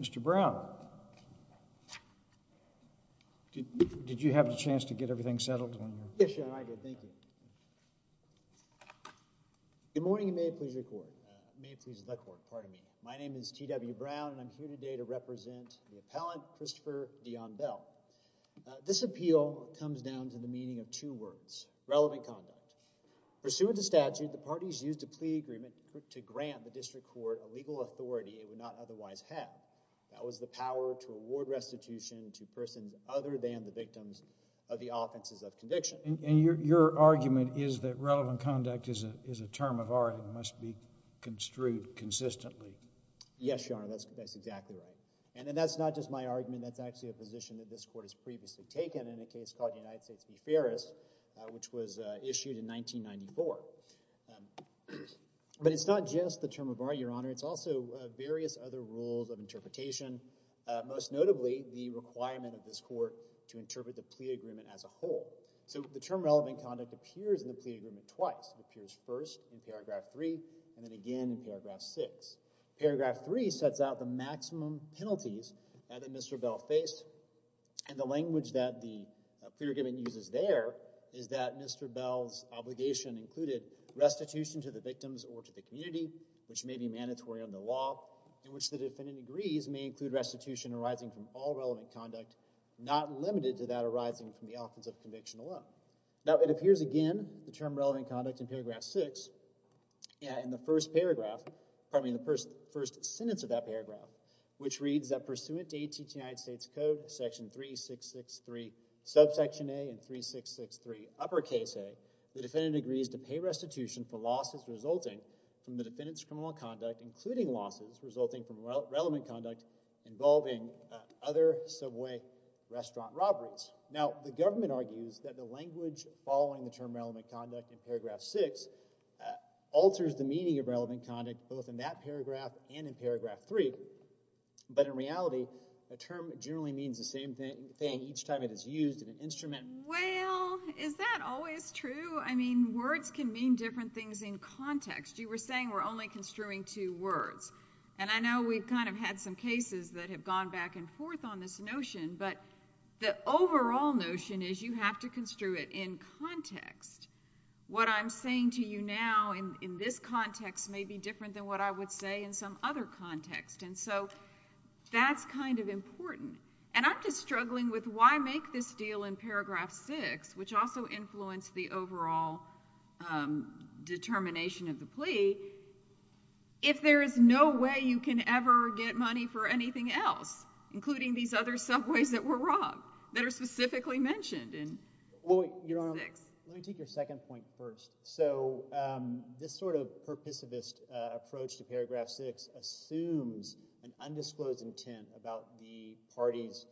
Mr. Brown, did you have a chance to get everything settled? Yes, I did. Thank you. Good morning and may it please the court, pardon me. My name is T.W. Brown and I'm here today to represent the appellant Christopher Dion Bell. This appeal comes down to the meaning of two words, relevant conduct. Pursuant to statute, the parties used a plea agreement to grant the district court a legal authority it would not otherwise have. That was the power to award restitution to persons other than the victims of the offenses of conviction. And your argument is that relevant conduct is a term of art and must be construed consistently. Yes, Your Honor, that's exactly right. And that's not just my argument. That's actually a position that this court has previously taken in a case called United States v. Ferris, which was issued in 1994. But it's not just the term of art, Your Honor. It's also various other rules of interpretation, most notably the requirement of this court to interpret the plea agreement as a whole. So the term relevant conduct appears in the plea agreement twice. It appears first in paragraph 3 and then again in paragraph 6. Paragraph 3 sets out the maximum penalties that Mr. Bell faced. And the language that the plea agreement uses there is that Mr. Bell's obligation included restitution to the victims or to the community, which may be mandatory under law, in which the defendant agrees may include restitution arising from all relevant conduct, not limited to that arising from the offense of conviction alone. Now, it appears again, the term relevant conduct in paragraph 6, in the first sentence of that paragraph, which reads that pursuant to AT&T United States Code section 3663 subsection A and 3663 uppercase A, the defendant agrees to pay restitution for losses resulting from the defendant's criminal conduct, including losses resulting from relevant conduct involving other subway restaurant robberies. Now, the government argues that the language following the term relevant conduct in paragraph 6 alters the meaning of relevant conduct both in that paragraph and in paragraph 3. But in reality, a term generally means the same thing each time it is used in an instrument. Well, is that always true? I mean, words can mean different things in context. You were saying we're only construing two words. And I know we've kind of had some cases that have gone back and forth on this notion, but the overall notion is you have to construe it in context. What I'm saying to you now in this context may be different than what I would say in some other context. And so that's kind of important. And I'm just struggling with why make this deal in paragraph 6, which also influenced the overall determination of the plea, if there is no way you can ever get money for anything else, including these other subways that were robbed that are specifically mentioned in paragraph 6. Let me take your second point first. So this sort of perpissivist approach to paragraph 6 assumes an undisclosed intent about the party's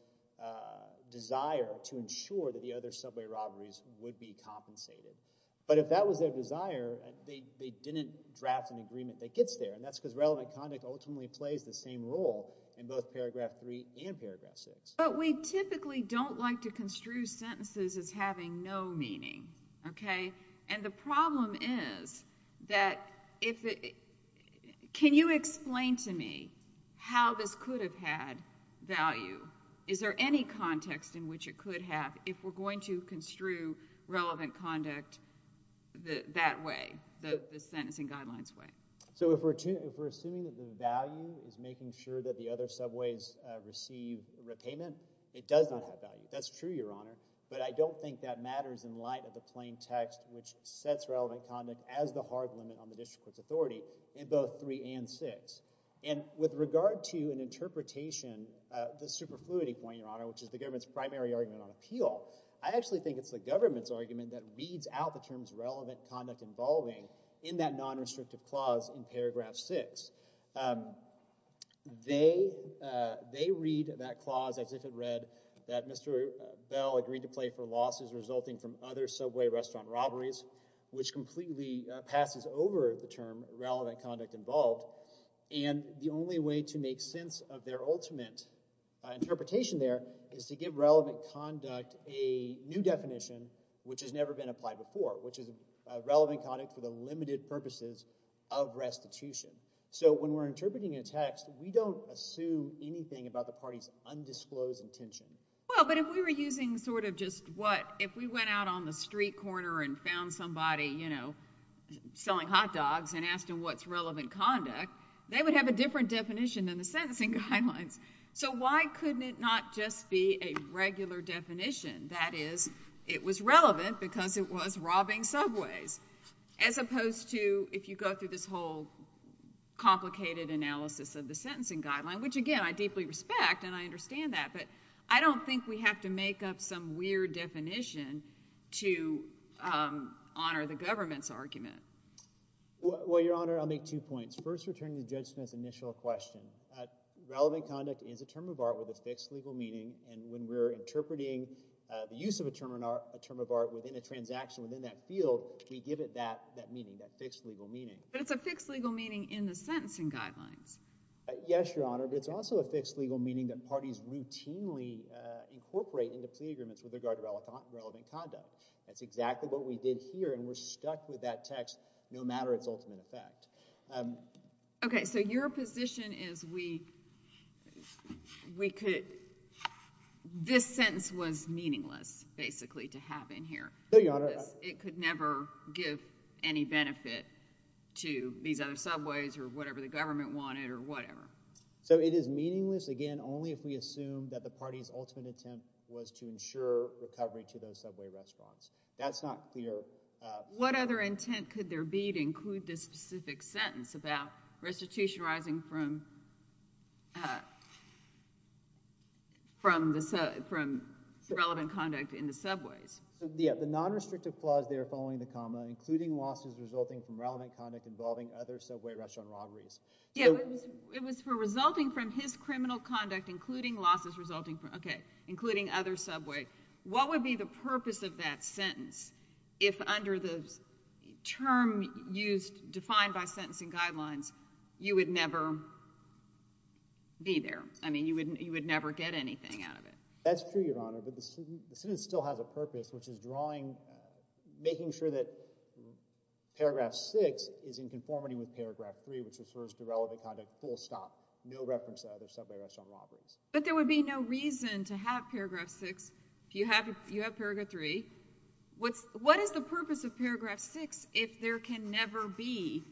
desire to ensure that the other subway robberies would be compensated. But if that was their desire, they didn't draft an agreement that gets there, and that's because relevant conduct ultimately plays the same role in both paragraph 3 and paragraph 6. But we typically don't like to construe sentences as having no meaning, okay? And the problem is that if it – can you explain to me how this could have had value? Is there any context in which it could have if we're going to construe relevant conduct that way, the sentencing guidelines way? So if we're assuming that the value is making sure that the other subways receive repayment, it does not have value. That's true, Your Honor. But I don't think that matters in light of the plain text which sets relevant conduct as the hard limit on the district court's authority in both 3 and 6. And with regard to an interpretation of the superfluity point, Your Honor, which is the government's primary argument on appeal, I actually think it's the government's argument that reads out the terms relevant conduct involving in that nonrestrictive clause in paragraph 6. They read that clause as if it read that Mr. Bell agreed to pay for losses resulting from other subway restaurant robberies, which completely passes over the term relevant conduct involved. And the only way to make sense of their ultimate interpretation there is to give relevant conduct a new definition which has never been applied before, which is relevant conduct for the limited purposes of restitution. So when we're interpreting a text, we don't assume anything about the party's undisclosed intention. Well, but if we were using sort of just what, if we went out on the street corner and found somebody, you know, selling hot dogs and asked them what's relevant conduct, they would have a different definition than the sentencing guidelines. So why couldn't it not just be a regular definition? That is, it was relevant because it was robbing subways, as opposed to if you go through this whole complicated analysis of the sentencing guideline, which, again, I deeply respect and I understand that, but I don't think we have to make up some weird definition to honor the government's argument. Well, Your Honor, I'll make two points. First, returning to Judge Smith's initial question, relevant conduct is a term of art with a fixed legal meaning, and when we're interpreting the use of a term of art within a transaction within that field, we give it that meaning, that fixed legal meaning. But it's a fixed legal meaning in the sentencing guidelines. Yes, Your Honor, but it's also a fixed legal meaning that parties routinely incorporate into plea agreements with regard to relevant conduct. That's exactly what we did here, and we're stuck with that text no matter its ultimate effect. Okay, so your position is we could—this sentence was meaningless, basically, to have in here. No, Your Honor. It could never give any benefit to these other subways or whatever the government wanted or whatever. So it is meaningless, again, only if we assume that the party's ultimate attempt was to ensure recovery to those subway restaurants. That's not clear. What other intent could there be to include this specific sentence about restitution arising from relevant conduct in the subways? Yeah, the nonrestrictive clause there following the comma, including losses resulting from relevant conduct involving other subway restaurant robberies. Yeah, it was for resulting from his criminal conduct, including losses resulting from— okay, including other subway. What would be the purpose of that sentence if under the term used, defined by sentencing guidelines, you would never be there? I mean, you would never get anything out of it. That's true, Your Honor, but the sentence still has a purpose, which is drawing—making sure that Paragraph 6 is in conformity with Paragraph 3, which refers to relevant conduct, full stop, no reference to other subway restaurant robberies. But there would be no reason to have Paragraph 6 if you have Paragraph 3. What is the purpose of Paragraph 6 if there can never be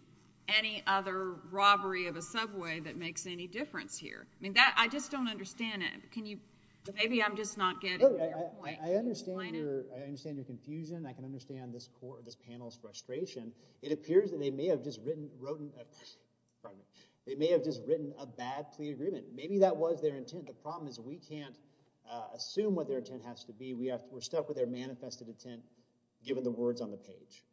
any other robbery of a subway that makes any difference here? I mean, I just don't understand it. Can you—maybe I'm just not getting your point. I understand your confusion. I can understand this panel's frustration. It appears that they may have just written a bad plea agreement. Maybe that was their intent. The problem is we can't assume what their intent has to be. We're stuck with their manifested intent, given the words on the page.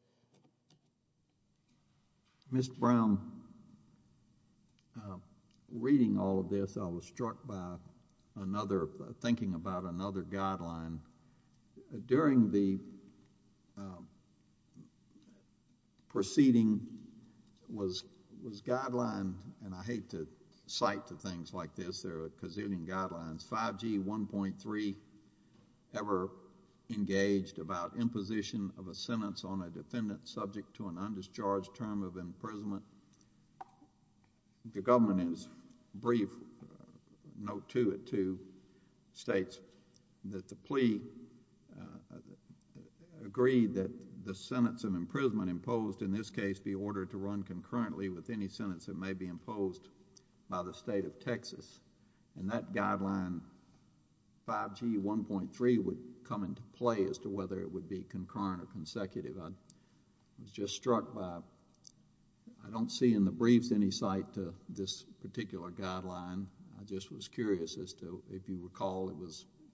Mr. Brown, reading all of this, I was struck by another—thinking about another guideline. During the proceeding was guideline—and I hate to cite to things like this. There are a gazillion guidelines. 5G 1.3 ever engaged about imposition of a sentence on a defendant subject to an undischarged term of imprisonment. The government is brief. Note 2 of 2 states that the plea agreed that the sentence of imprisonment imposed in this case be ordered to run concurrently with any sentence that may be imposed by the state of Texas. And that guideline, 5G 1.3, would come into play as to whether it would be concurrent or consecutive. I was just struck by—I don't see in the briefs any cite to this particular guideline. I just was curious as to if you recall it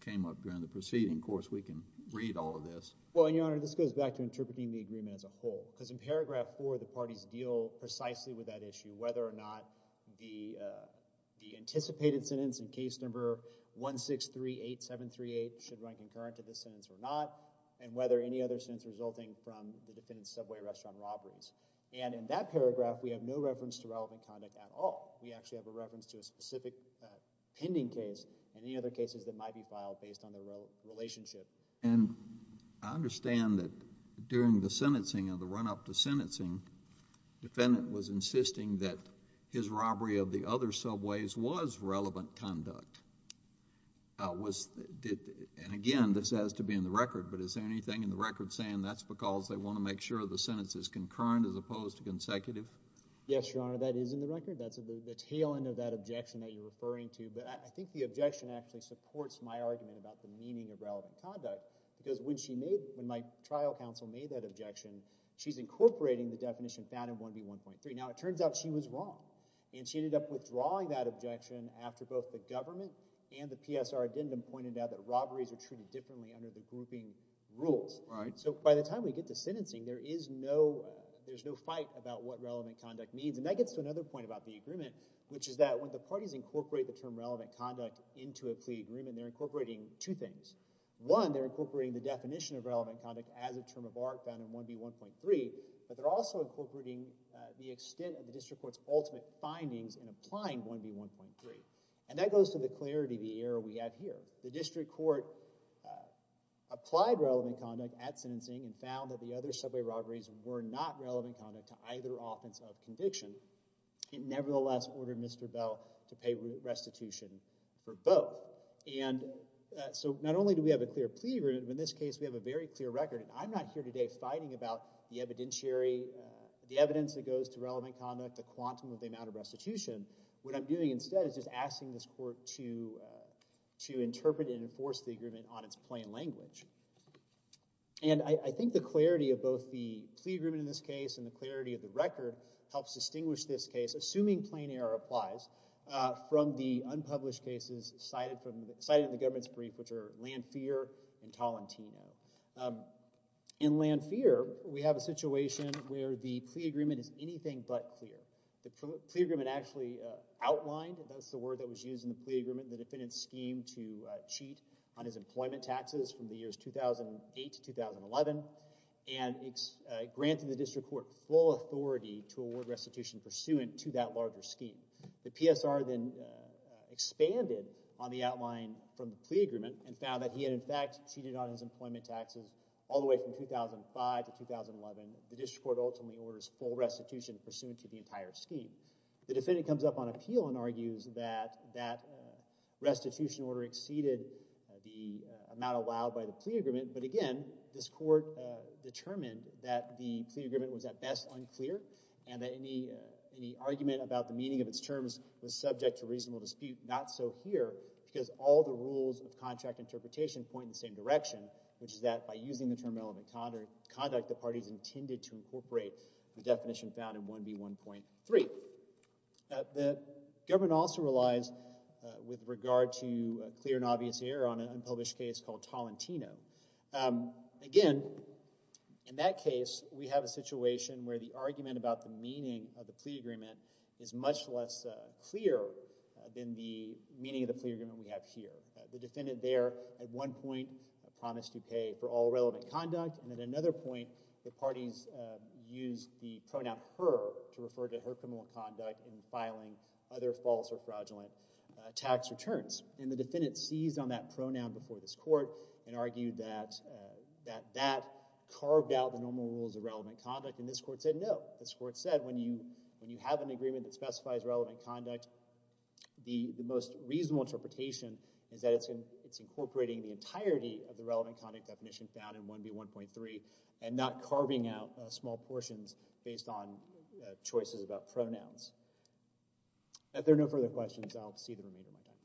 came up during the proceeding. Of course, we can read all of this. Well, Your Honor, this goes back to interpreting the agreement as a whole. Because in paragraph 4, the parties deal precisely with that issue, whether or not the anticipated sentence in case number 1638738 should run concurrent to this sentence or not, and whether any other sentence resulting from the defendant's subway restaurant robberies. And in that paragraph, we have no reference to relevant conduct at all. We actually have a reference to a specific pending case and any other cases that might be filed based on the relationship. And I understand that during the sentencing or the run-up to sentencing, the defendant was insisting that his robbery of the other subways was relevant conduct. And again, this has to be in the record. But is there anything in the record saying that's because they want to make sure the sentence is concurrent as opposed to consecutive? Yes, Your Honor, that is in the record. That's the tail end of that objection that you're referring to. But I think the objection actually supports my argument about the meaning of relevant conduct because when my trial counsel made that objection, she's incorporating the definition found in 1B1.3. Now, it turns out she was wrong, and she ended up withdrawing that objection after both the government and the PSR addendum pointed out that robberies are treated differently under the grouping rules. So by the time we get to sentencing, there's no fight about what relevant conduct means. And that gets to another point about the agreement, which is that when the parties incorporate the term relevant conduct into a plea agreement, they're incorporating two things. One, they're incorporating the definition of relevant conduct as a term of art found in 1B1.3, but they're also incorporating the extent of the district court's ultimate findings in applying 1B1.3. And that goes to the clarity of the error we have here. The district court applied relevant conduct at sentencing and found that the other subway robberies were not relevant conduct to either offense of conviction. It nevertheless ordered Mr. Bell to pay restitution for both. And so not only do we have a clear plea agreement, but in this case we have a very clear record. And I'm not here today fighting about the evidence that goes to relevant conduct, the quantum of the amount of restitution. What I'm doing instead is just asking this court to interpret and enforce the agreement on its plain language. And I think the clarity of both the plea agreement in this case and the clarity of the record helps distinguish this case, assuming plain error applies, from the unpublished cases cited in the government's brief, which are Lanfear and Tolentino. In Lanfear, we have a situation where the plea agreement is anything but clear. The plea agreement actually outlined, that's the word that was used in the plea agreement, the defendant's scheme to cheat on his employment taxes from the years 2008 to 2011 and granted the district court full authority to award restitution pursuant to that larger scheme. The PSR then expanded on the outline from the plea agreement and found that he had in fact cheated on his employment taxes all the way from 2005 to 2011. The district court ultimately orders full restitution pursuant to the entire scheme. The defendant comes up on appeal and argues that that restitution order exceeded the amount allowed by the plea agreement. But again, this court determined that the plea agreement was at best unclear and that any argument about the meaning of its terms was subject to reasonable dispute. Not so here, because all the rules of contract interpretation point in the same direction, which is that by using the term relevant conduct, the parties intended to incorporate the definition found in 1B1.3. The government also relies with regard to clear and obvious error on an unpublished case called Tolentino. Again, in that case, we have a situation where the argument about the meaning of the plea agreement is much less clear than the meaning of the plea agreement we have here. The defendant there at one point promised to pay for all relevant conduct. And at another point, the parties used the pronoun her to refer to her criminal conduct in filing other false or fraudulent tax returns. And the defendant seized on that pronoun before this court and argued that that carved out the normal rules of relevant conduct. And this court said no. This court said when you have an agreement that specifies relevant conduct, the most reasonable interpretation is that it's incorporating the entirety of the relevant conduct definition found in 1B1.3 and not carving out small portions based on choices about pronouns. If there are no further questions, I'll see the remainder of my time.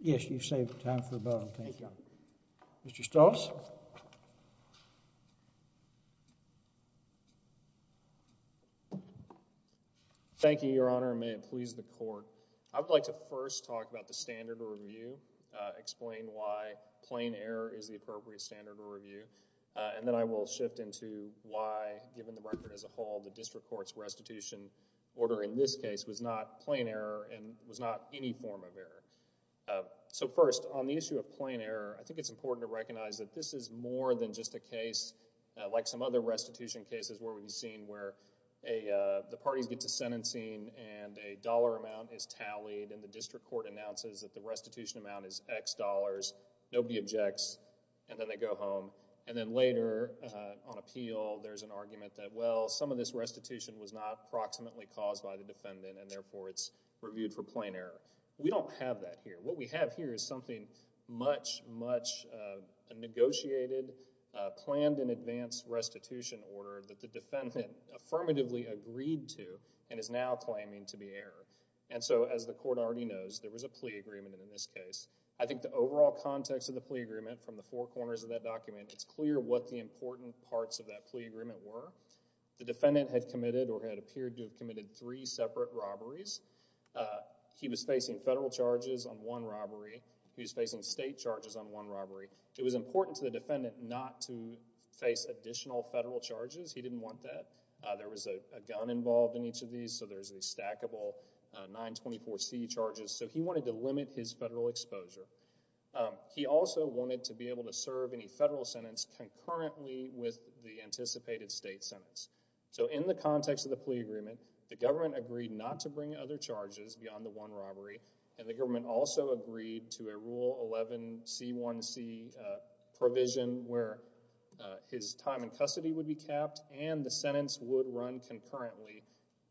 Yes, you've saved time for a vote. Thank you. Mr. Strauss? Thank you, Your Honor, and may it please the court. I would like to first talk about the standard of review, explain why plain error is the appropriate standard of review, and then I will shift into why, given the record as a whole, the district court's restitution order in this case was not plain error and was not any form of error. So first, on the issue of plain error, I think it's important to recognize that this court this is more than just a case like some other restitution cases where we've seen where the parties get to sentencing and a dollar amount is tallied and the district court announces that the restitution amount is X dollars. Nobody objects, and then they go home. And then later on appeal, there's an argument that, well, some of this restitution was not proximately caused by the defendant, and therefore it's reviewed for plain error. We don't have that here. What we have here is something much, much negotiated, planned in advance restitution order that the defendant affirmatively agreed to and is now claiming to be error. And so, as the court already knows, there was a plea agreement in this case. I think the overall context of the plea agreement from the four corners of that document, it's clear what the important parts of that plea agreement were. The defendant had committed or had appeared to have committed three separate robberies. He was facing federal charges on one robbery. He was facing state charges on one robbery. It was important to the defendant not to face additional federal charges. He didn't want that. There was a gun involved in each of these, so there's the stackable 924C charges. So he wanted to limit his federal exposure. He also wanted to be able to serve any federal sentence concurrently with the anticipated state sentence. So in the context of the plea agreement, the government agreed not to bring other charges beyond the one robbery, and the government also agreed to a Rule 11C1C provision where his time in custody would be capped and the sentence would run concurrently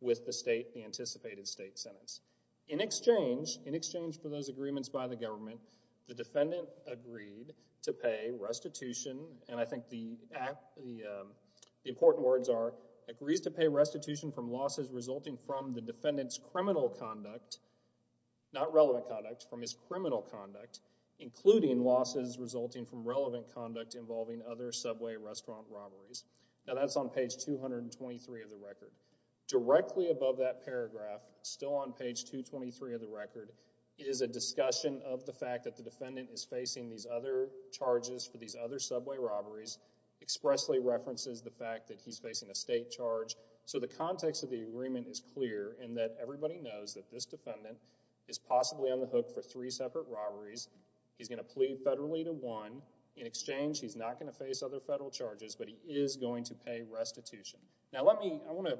with the state, the anticipated state sentence. In exchange, in exchange for those agreements by the government, the defendant agreed to pay restitution, and I think the important words are, agrees to pay restitution from losses resulting from the defendant's criminal conduct, not relevant conduct, from his criminal conduct, including losses resulting from relevant conduct involving other subway restaurant robberies. Now that's on page 223 of the record. Directly above that paragraph, still on page 223 of the record, is a discussion of the fact that the defendant is facing these other charges for these other subway robberies, expressly references the fact that he's facing a state charge. So the context of the agreement is clear in that everybody knows that this defendant is possibly on the hook for three separate robberies. He's going to plead federally to one. In exchange, he's not going to face other federal charges, but he is going to pay restitution. Now let me, I want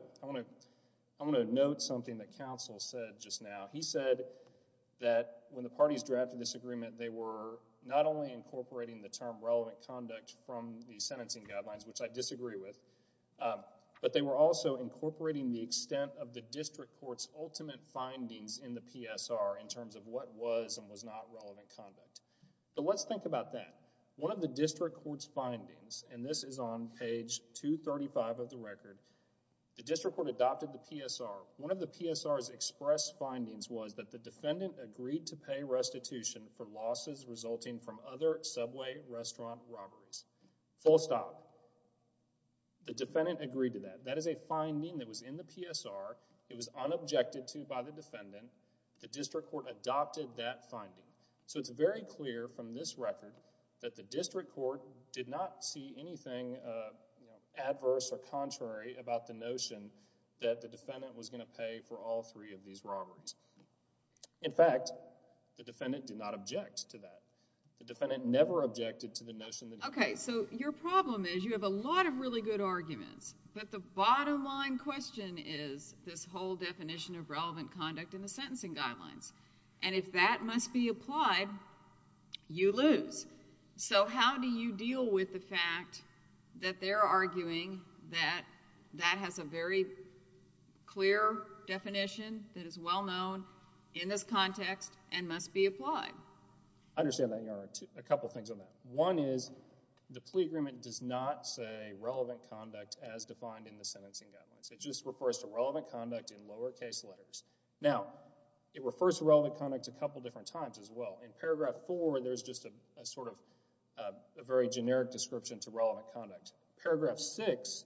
to note something that counsel said just now. He said that when the parties drafted this agreement, they were not only incorporating the term relevant conduct from the sentencing guidelines, which I disagree with, but they were also incorporating the extent of the district court's ultimate findings in the PSR in terms of what was and was not relevant conduct. But let's think about that. One of the district court's findings, and this is on page 235 of the record, the district court adopted the PSR. One of the PSR's express findings was that the defendant agreed to pay restitution for losses resulting from other subway restaurant robberies. Full stop. The defendant agreed to that. That is a finding that was in the PSR. It was unobjected to by the defendant. The district court adopted that finding. So it's very clear from this record that the district court did not see anything, you know, adverse or contrary about the notion that the defendant was going to pay for all three of these robberies. In fact, the defendant did not object to that. The defendant never objected to the notion that he was going to pay. Okay, so your problem is you have a lot of really good arguments, but the bottom line question is this whole definition of relevant conduct in the sentencing guidelines. And if that must be applied, you lose. So how do you deal with the fact that they're arguing that that has a very clear definition that is well known in this context and must be applied? I understand that, Your Honor, a couple things on that. One is the plea agreement does not say relevant conduct as defined in the sentencing guidelines. It just refers to relevant conduct in lowercase letters. Now, it refers to relevant conduct a couple different times as well. In Paragraph 4, there's just a sort of a very generic description to relevant conduct. Paragraph 6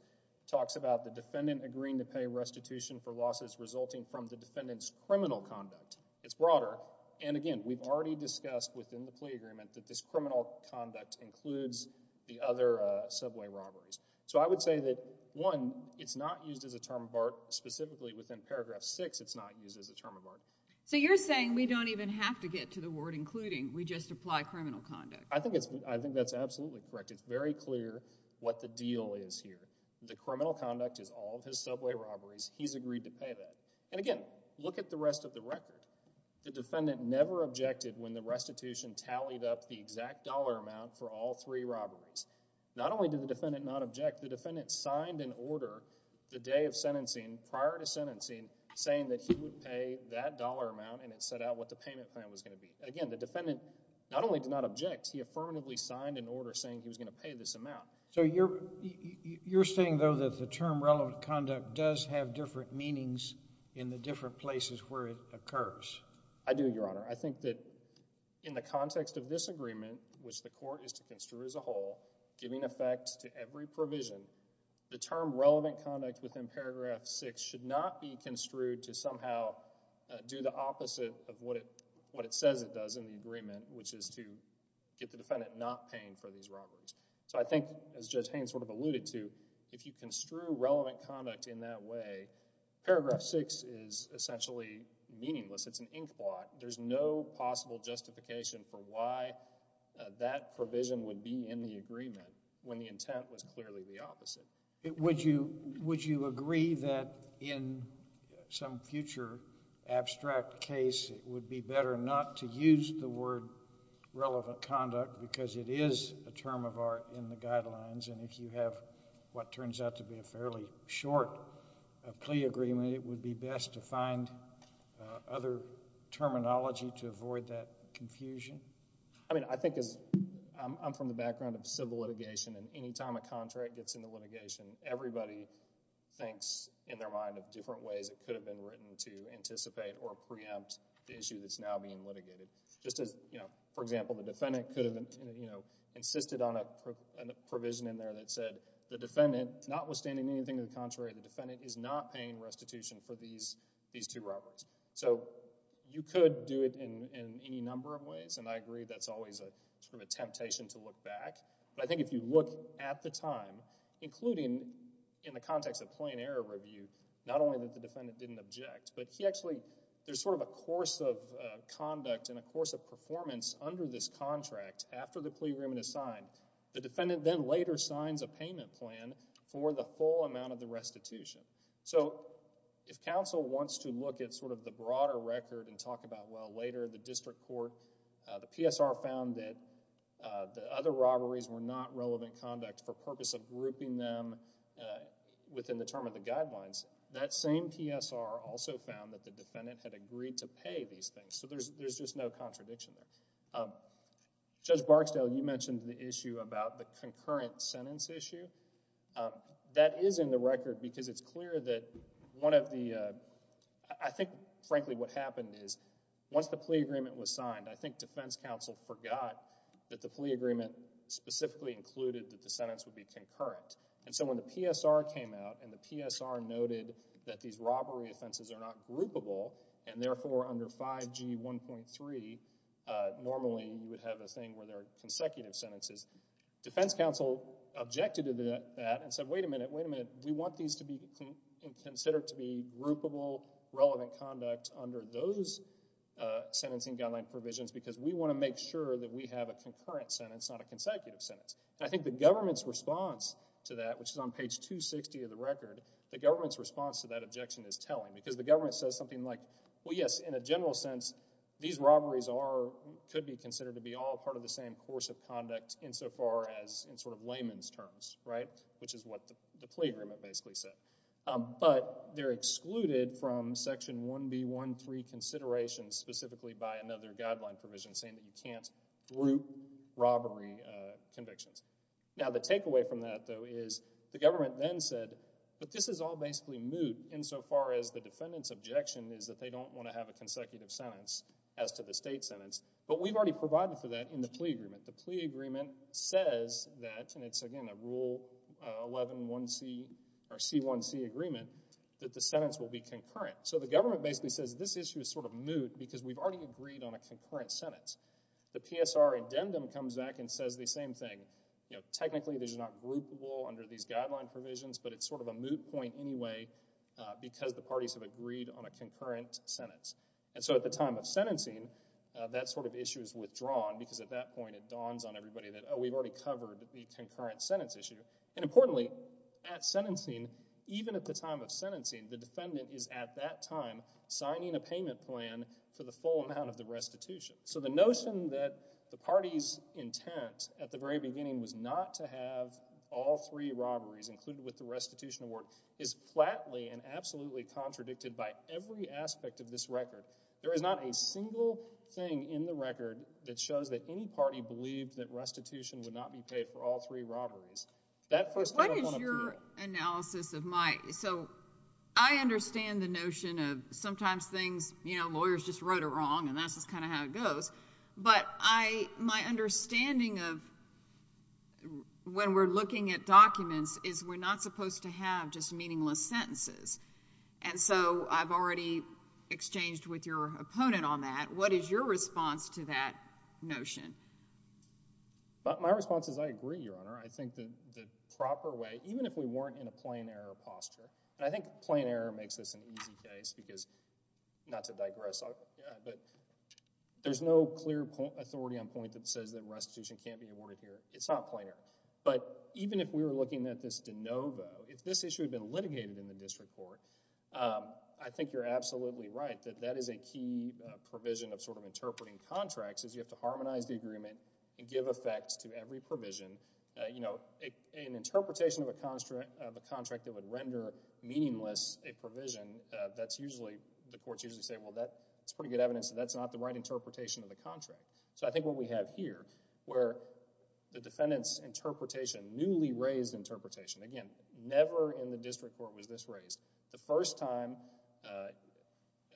talks about the defendant agreeing to pay restitution for losses resulting from the defendant's criminal conduct. It's broader, and again, we've already discussed within the plea agreement that this criminal conduct includes the other subway robberies. So I would say that, one, it's not used as a term of art. Specifically within Paragraph 6, it's not used as a term of art. So you're saying we don't even have to get to the word including. We just apply criminal conduct. I think that's absolutely correct. It's very clear what the deal is here. The criminal conduct is all of his subway robberies. He's agreed to pay that. And again, look at the rest of the record. The defendant never objected when the restitution tallied up the exact dollar amount for all three robberies. Not only did the defendant not object, the defendant signed an order the day of sentencing, saying that he would pay that dollar amount, and it set out what the payment plan was going to be. Again, the defendant not only did not object, he affirmatively signed an order saying he was going to pay this amount. So you're saying, though, that the term relevant conduct does have different meanings in the different places where it occurs. I do, Your Honor. I think that in the context of this agreement, which the court is to construe as a whole, giving effect to every provision, the term relevant conduct within paragraph 6 should not be construed to somehow do the opposite of what it says it does in the agreement, which is to get the defendant not paying for these robberies. So I think, as Judge Haines sort of alluded to, if you construe relevant conduct in that way, paragraph 6 is essentially meaningless. It's an inkblot. There's no possible justification for why that provision would be in the agreement when the intent was clearly the opposite. Would you agree that in some future abstract case, it would be better not to use the word relevant conduct because it is a term of art in the guidelines, and if you have what turns out to be a fairly short plea agreement, then it would be best to find other terminology to avoid that confusion? I mean, I think as—I'm from the background of civil litigation, and any time a contract gets into litigation, everybody thinks in their mind of different ways it could have been written to anticipate or preempt the issue that's now being litigated. Just as, you know, for example, the defendant could have, you know, insisted on a provision in there that said the defendant, notwithstanding anything to the contrary, the defendant is not paying restitution for these two robberies. So you could do it in any number of ways, and I agree that's always sort of a temptation to look back, but I think if you look at the time, including in the context of plain error review, not only that the defendant didn't object, but he actually— there's sort of a course of conduct and a course of performance under this contract after the plea agreement is signed. The defendant then later signs a payment plan for the full amount of the restitution. So if counsel wants to look at sort of the broader record and talk about, well, later the district court, the PSR found that the other robberies were not relevant conduct for purpose of grouping them within the term of the guidelines, that same PSR also found that the defendant had agreed to pay these things. So there's just no contradiction there. Judge Barksdale, you mentioned the issue about the concurrent sentence issue. That is in the record because it's clear that one of the— I think, frankly, what happened is once the plea agreement was signed, I think defense counsel forgot that the plea agreement specifically included that the sentence would be concurrent. And so when the PSR came out and the PSR noted that these robbery offenses are not groupable and therefore under 5G 1.3 normally you would have a thing where there are consecutive sentences, defense counsel objected to that and said, wait a minute, wait a minute. We want these to be considered to be groupable, relevant conduct under those sentencing guideline provisions because we want to make sure that we have a concurrent sentence, not a consecutive sentence. And I think the government's response to that, which is on page 260 of the record, the government's response to that objection is telling because the government says something like, well, yes, in a general sense these robberies could be considered to be all part of the same course of conduct insofar as in sort of layman's terms, right, which is what the plea agreement basically said. But they're excluded from Section 1B 1.3 considerations specifically by another guideline provision saying that you can't group robbery convictions. Now the takeaway from that though is the government then said, but this is all basically moot insofar as the defendant's objection is that they don't want to have a consecutive sentence as to the state sentence. But we've already provided for that in the plea agreement. The plea agreement says that, and it's again a Rule 111C or C1C agreement, that the sentence will be concurrent. So the government basically says this issue is sort of moot because we've already agreed on a concurrent sentence. The PSR addendum comes back and says the same thing. You know, technically this is not groupable under these guideline provisions, but it's sort of a moot point anyway because the parties have agreed on a concurrent sentence. And so at the time of sentencing, that sort of issue is withdrawn because at that point it dawns on everybody that, oh, we've already covered the concurrent sentence issue. And importantly, at sentencing, even at the time of sentencing, the defendant is at that time signing a payment plan for the full amount of the restitution. So the notion that the party's intent at the very beginning was not to have all three robberies, included with the restitution award, is flatly and absolutely contradicted by every aspect of this record. There is not a single thing in the record that shows that any party believed that restitution would not be paid for all three robberies. That first thing I want to point out— What is your analysis of my—so I understand the notion of sometimes things, you know, But my understanding of when we're looking at documents is we're not supposed to have just meaningless sentences. And so I've already exchanged with your opponent on that. What is your response to that notion? My response is I agree, Your Honor. I think the proper way, even if we weren't in a plain error posture— and I think plain error makes this an easy case because, not to digress, but there's no clear authority on point that says that restitution can't be awarded here. It's not plain error. But even if we were looking at this de novo, if this issue had been litigated in the district court, I think you're absolutely right that that is a key provision of sort of interpreting contracts, is you have to harmonize the agreement and give effects to every provision. You know, an interpretation of a contract that would render meaningless a provision, that's usually—the courts usually say, Well, that's pretty good evidence that that's not the right interpretation of the contract. So I think what we have here where the defendant's interpretation, newly raised interpretation— Again, never in the district court was this raised. The first time,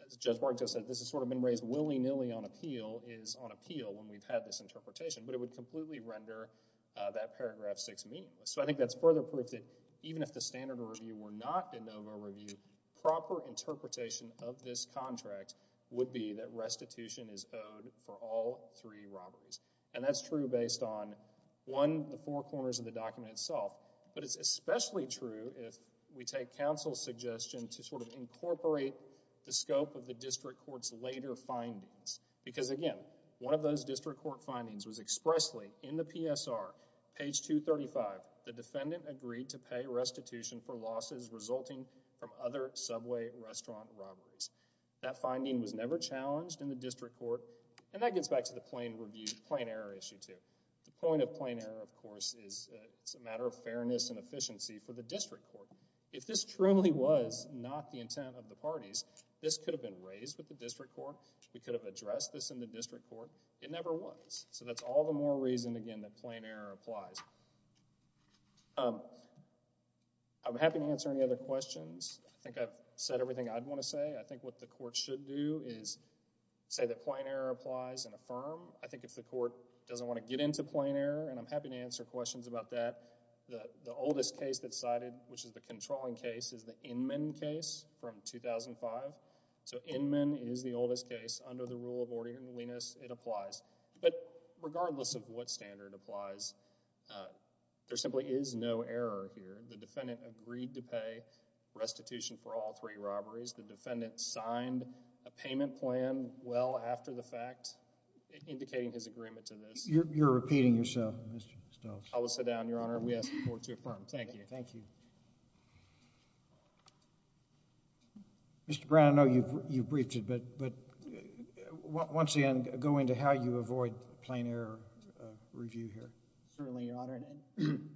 as Judge Barrington said, this has sort of been raised willy-nilly on appeal is on appeal when we've had this interpretation. But it would completely render that paragraph 6 meaningless. So I think that's further proof that even if the standard of review were not de novo review, proper interpretation of this contract would be that restitution is owed for all three robberies. And that's true based on, one, the four corners of the document itself. But it's especially true if we take counsel's suggestion to sort of incorporate the scope of the district court's later findings. Because, again, one of those district court findings was expressly in the PSR, page 235. The defendant agreed to pay restitution for losses resulting from other subway restaurant robberies. That finding was never challenged in the district court. And that gets back to the plain error issue, too. The point of plain error, of course, is it's a matter of fairness and efficiency for the district court. If this truly was not the intent of the parties, this could have been raised with the district court. We could have addressed this in the district court. It never was. So that's all the more reason, again, that plain error applies. I'm happy to answer any other questions. I think I've said everything I'd want to say. I think what the court should do is say that plain error applies and affirm. I think if the court doesn't want to get into plain error, and I'm happy to answer questions about that, the oldest case that's cited, which is the controlling case, is the Inman case from 2005. So Inman is the oldest case. Under the rule of ordinariness, it applies. But regardless of what standard applies, there simply is no error here. The defendant agreed to pay restitution for all three robberies. The defendant signed a payment plan well after the fact, indicating his agreement to this. You're repeating yourself, Mr. Stokes. I will sit down, Your Honor. We ask the court to affirm. Thank you. Thank you. Mr. Brown, I know you've briefed it, but once again, go into how you avoid plain error review here. Certainly, Your Honor. And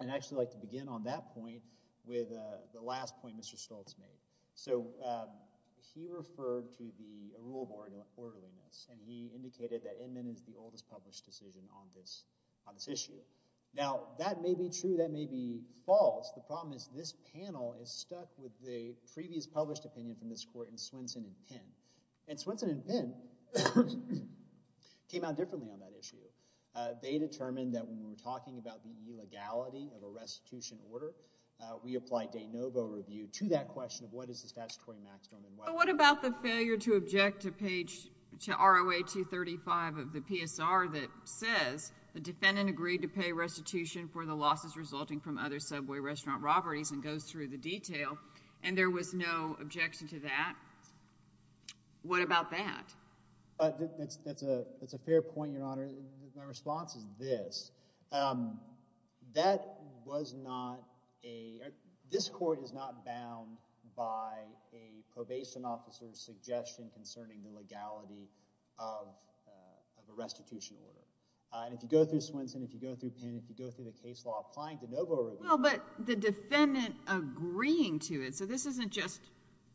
I'd actually like to begin on that point with the last point Mr. Stokes made. So he referred to the rule of orderliness, and he indicated that Inman is the oldest published decision on this issue. Now, that may be true. That may be false. The problem is this panel is stuck with the previous published opinion from this court in Swenson and Penn. And Swenson and Penn came out differently on that issue. They determined that when we were talking about the illegality of a restitution order, we applied de novo review to that question of what is the statutory maximum. But what about the failure to object to page – to ROA 235 of the PSR that says, the defendant agreed to pay restitution for the losses resulting from other subway restaurant robberies and goes through the detail, and there was no objection to that? What about that? That's a fair point, Your Honor. My response is this. That was not a – this court is not bound by a probation officer's suggestion concerning the legality of a restitution order. And if you go through Swenson, if you go through Penn, if you go through the case law applying de novo review – Well, but the defendant agreeing to it. So this isn't just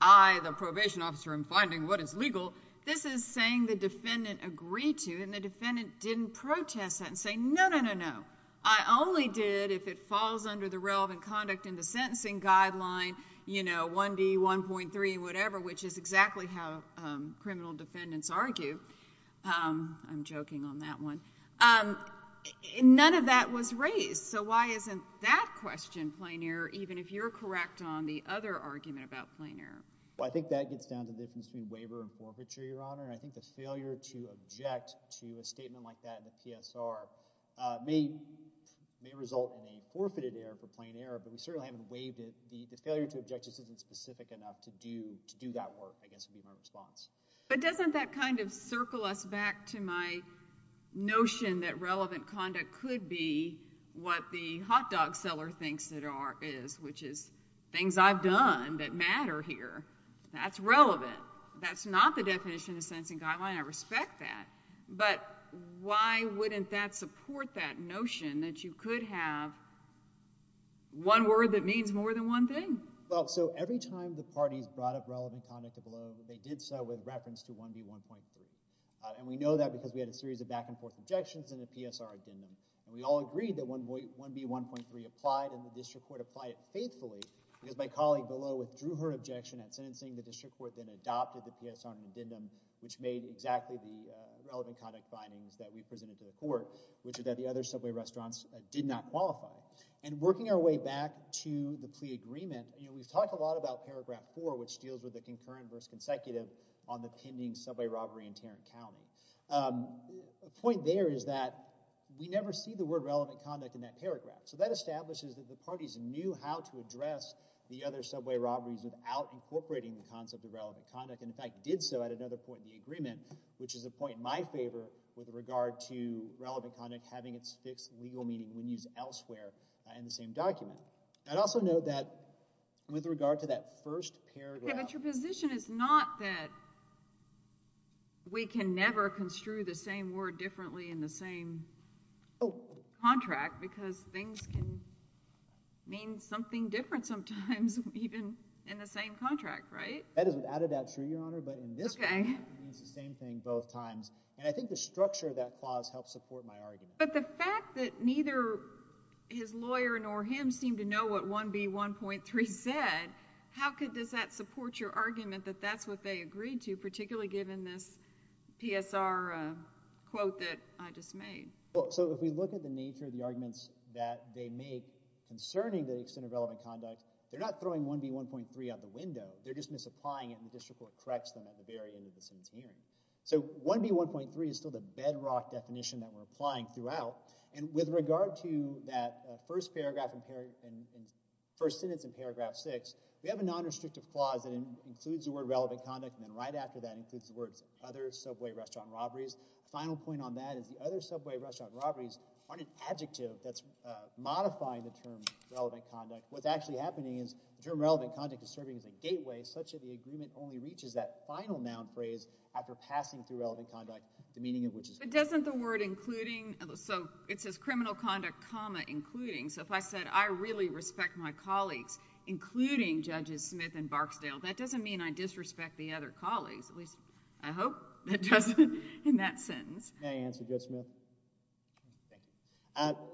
I, the probation officer, am finding what is legal. This is saying the defendant agreed to, and the defendant didn't protest that and say, no, no, no, no. I only did if it falls under the relevant conduct in the sentencing guideline, you know, 1D, 1.3, whatever, which is exactly how criminal defendants argue. I'm joking on that one. None of that was raised. So why isn't that question plain error, even if you're correct on the other argument about plain error? Well, I think that gets down to the difference between waiver and forfeiture, Your Honor. And I think the failure to object to a statement like that in the PSR may result in a forfeited error for plain error. But we certainly haven't waived it. The failure to object just isn't specific enough to do that work, I guess would be my response. But doesn't that kind of circle us back to my notion that relevant conduct could be what the hot dog seller thinks it is, which is things I've done that matter here. That's relevant. That's not the definition of the sentencing guideline. I respect that. But why wouldn't that support that notion that you could have one word that means more than one thing? Well, so every time the parties brought up relevant conduct at Below, they did so with reference to 1B1.3. And we know that because we had a series of back-and-forth objections in the PSR addendum. And we all agreed that 1B1.3 applied, and the district court applied it faithfully. Because my colleague Below withdrew her objection at sentencing, the district court then adopted the PSR addendum, which made exactly the relevant conduct findings that we presented to the court, which is that the other subway restaurants did not qualify. And working our way back to the plea agreement, we've talked a lot about Paragraph 4, which deals with the concurrent versus consecutive on the pending subway robbery in Tarrant County. The point there is that we never see the word relevant conduct in that paragraph. So that establishes that the parties knew how to address the other subway robberies without incorporating the concept of relevant conduct, and in fact did so at another point in the agreement, which is a point in my favor with regard to relevant conduct having its fixed legal meaning when used elsewhere in the same document. I'd also note that with regard to that first paragraph— But your position is not that we can never construe the same word differently in the same contract because things can mean something different sometimes even in the same contract, right? That is without a doubt true, Your Honor, but in this case it means the same thing both times. And I think the structure of that clause helps support my argument. But the fact that neither his lawyer nor him seem to know what 1B1.3 said, how does that support your argument that that's what they agreed to, particularly given this PSR quote that I just made? So if we look at the nature of the arguments that they make concerning the extent of relevant conduct, they're not throwing 1B1.3 out the window. They're just misapplying it and the district court corrects them at the very end of the sentence hearing. So 1B1.3 is still the bedrock definition that we're applying throughout. And with regard to that first sentence in paragraph 6, we have a nonrestrictive clause that includes the word relevant conduct and then right after that includes the words other subway restaurant robberies. The final point on that is the other subway restaurant robberies aren't an adjective that's modifying the term relevant conduct. What's actually happening is the term relevant conduct is serving as a gateway such that the agreement only reaches that final noun phrase after passing through relevant conduct, the meaning of which is— But doesn't the word including—so it says criminal conduct, comma, including. So if I said I really respect my colleagues, including Judges Smith and Barksdale, that doesn't mean I disrespect the other colleagues, at least I hope it doesn't in that sentence. May I answer, Judge Smith? Thank you.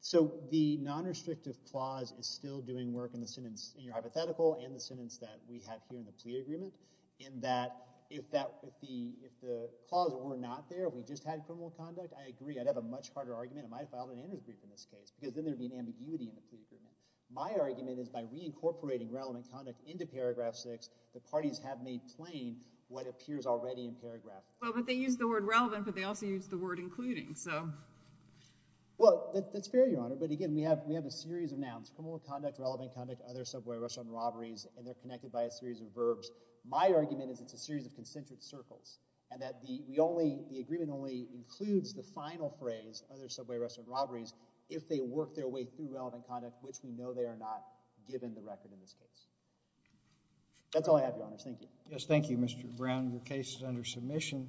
So the nonrestrictive clause is still doing work in the sentence, in your hypothetical and the sentence that we have here in the plea agreement in that if the clause were not there, we just had criminal conduct, I agree. I'd have a much harder argument. I might have filed an Anders brief in this case because then there would be an ambiguity in the plea agreement. My argument is by reincorporating relevant conduct into paragraph 6, the parties have made plain what appears already in paragraph 6. Well, but they used the word relevant, but they also used the word including, so— Well, that's fair, Your Honor, but again, we have a series of nouns, criminal conduct, relevant conduct, other subway rush-on robberies, and they're connected by a series of verbs. My argument is it's a series of concentric circles and that the agreement only includes the final phrase, other subway rush-on robberies, if they work their way through relevant conduct, which we know they are not given the record in this case. That's all I have, Your Honor. Thank you. Yes, thank you, Mr. Brown. Your case is under submission.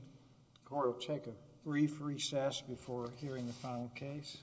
Court will take a brief recess before hearing the final case.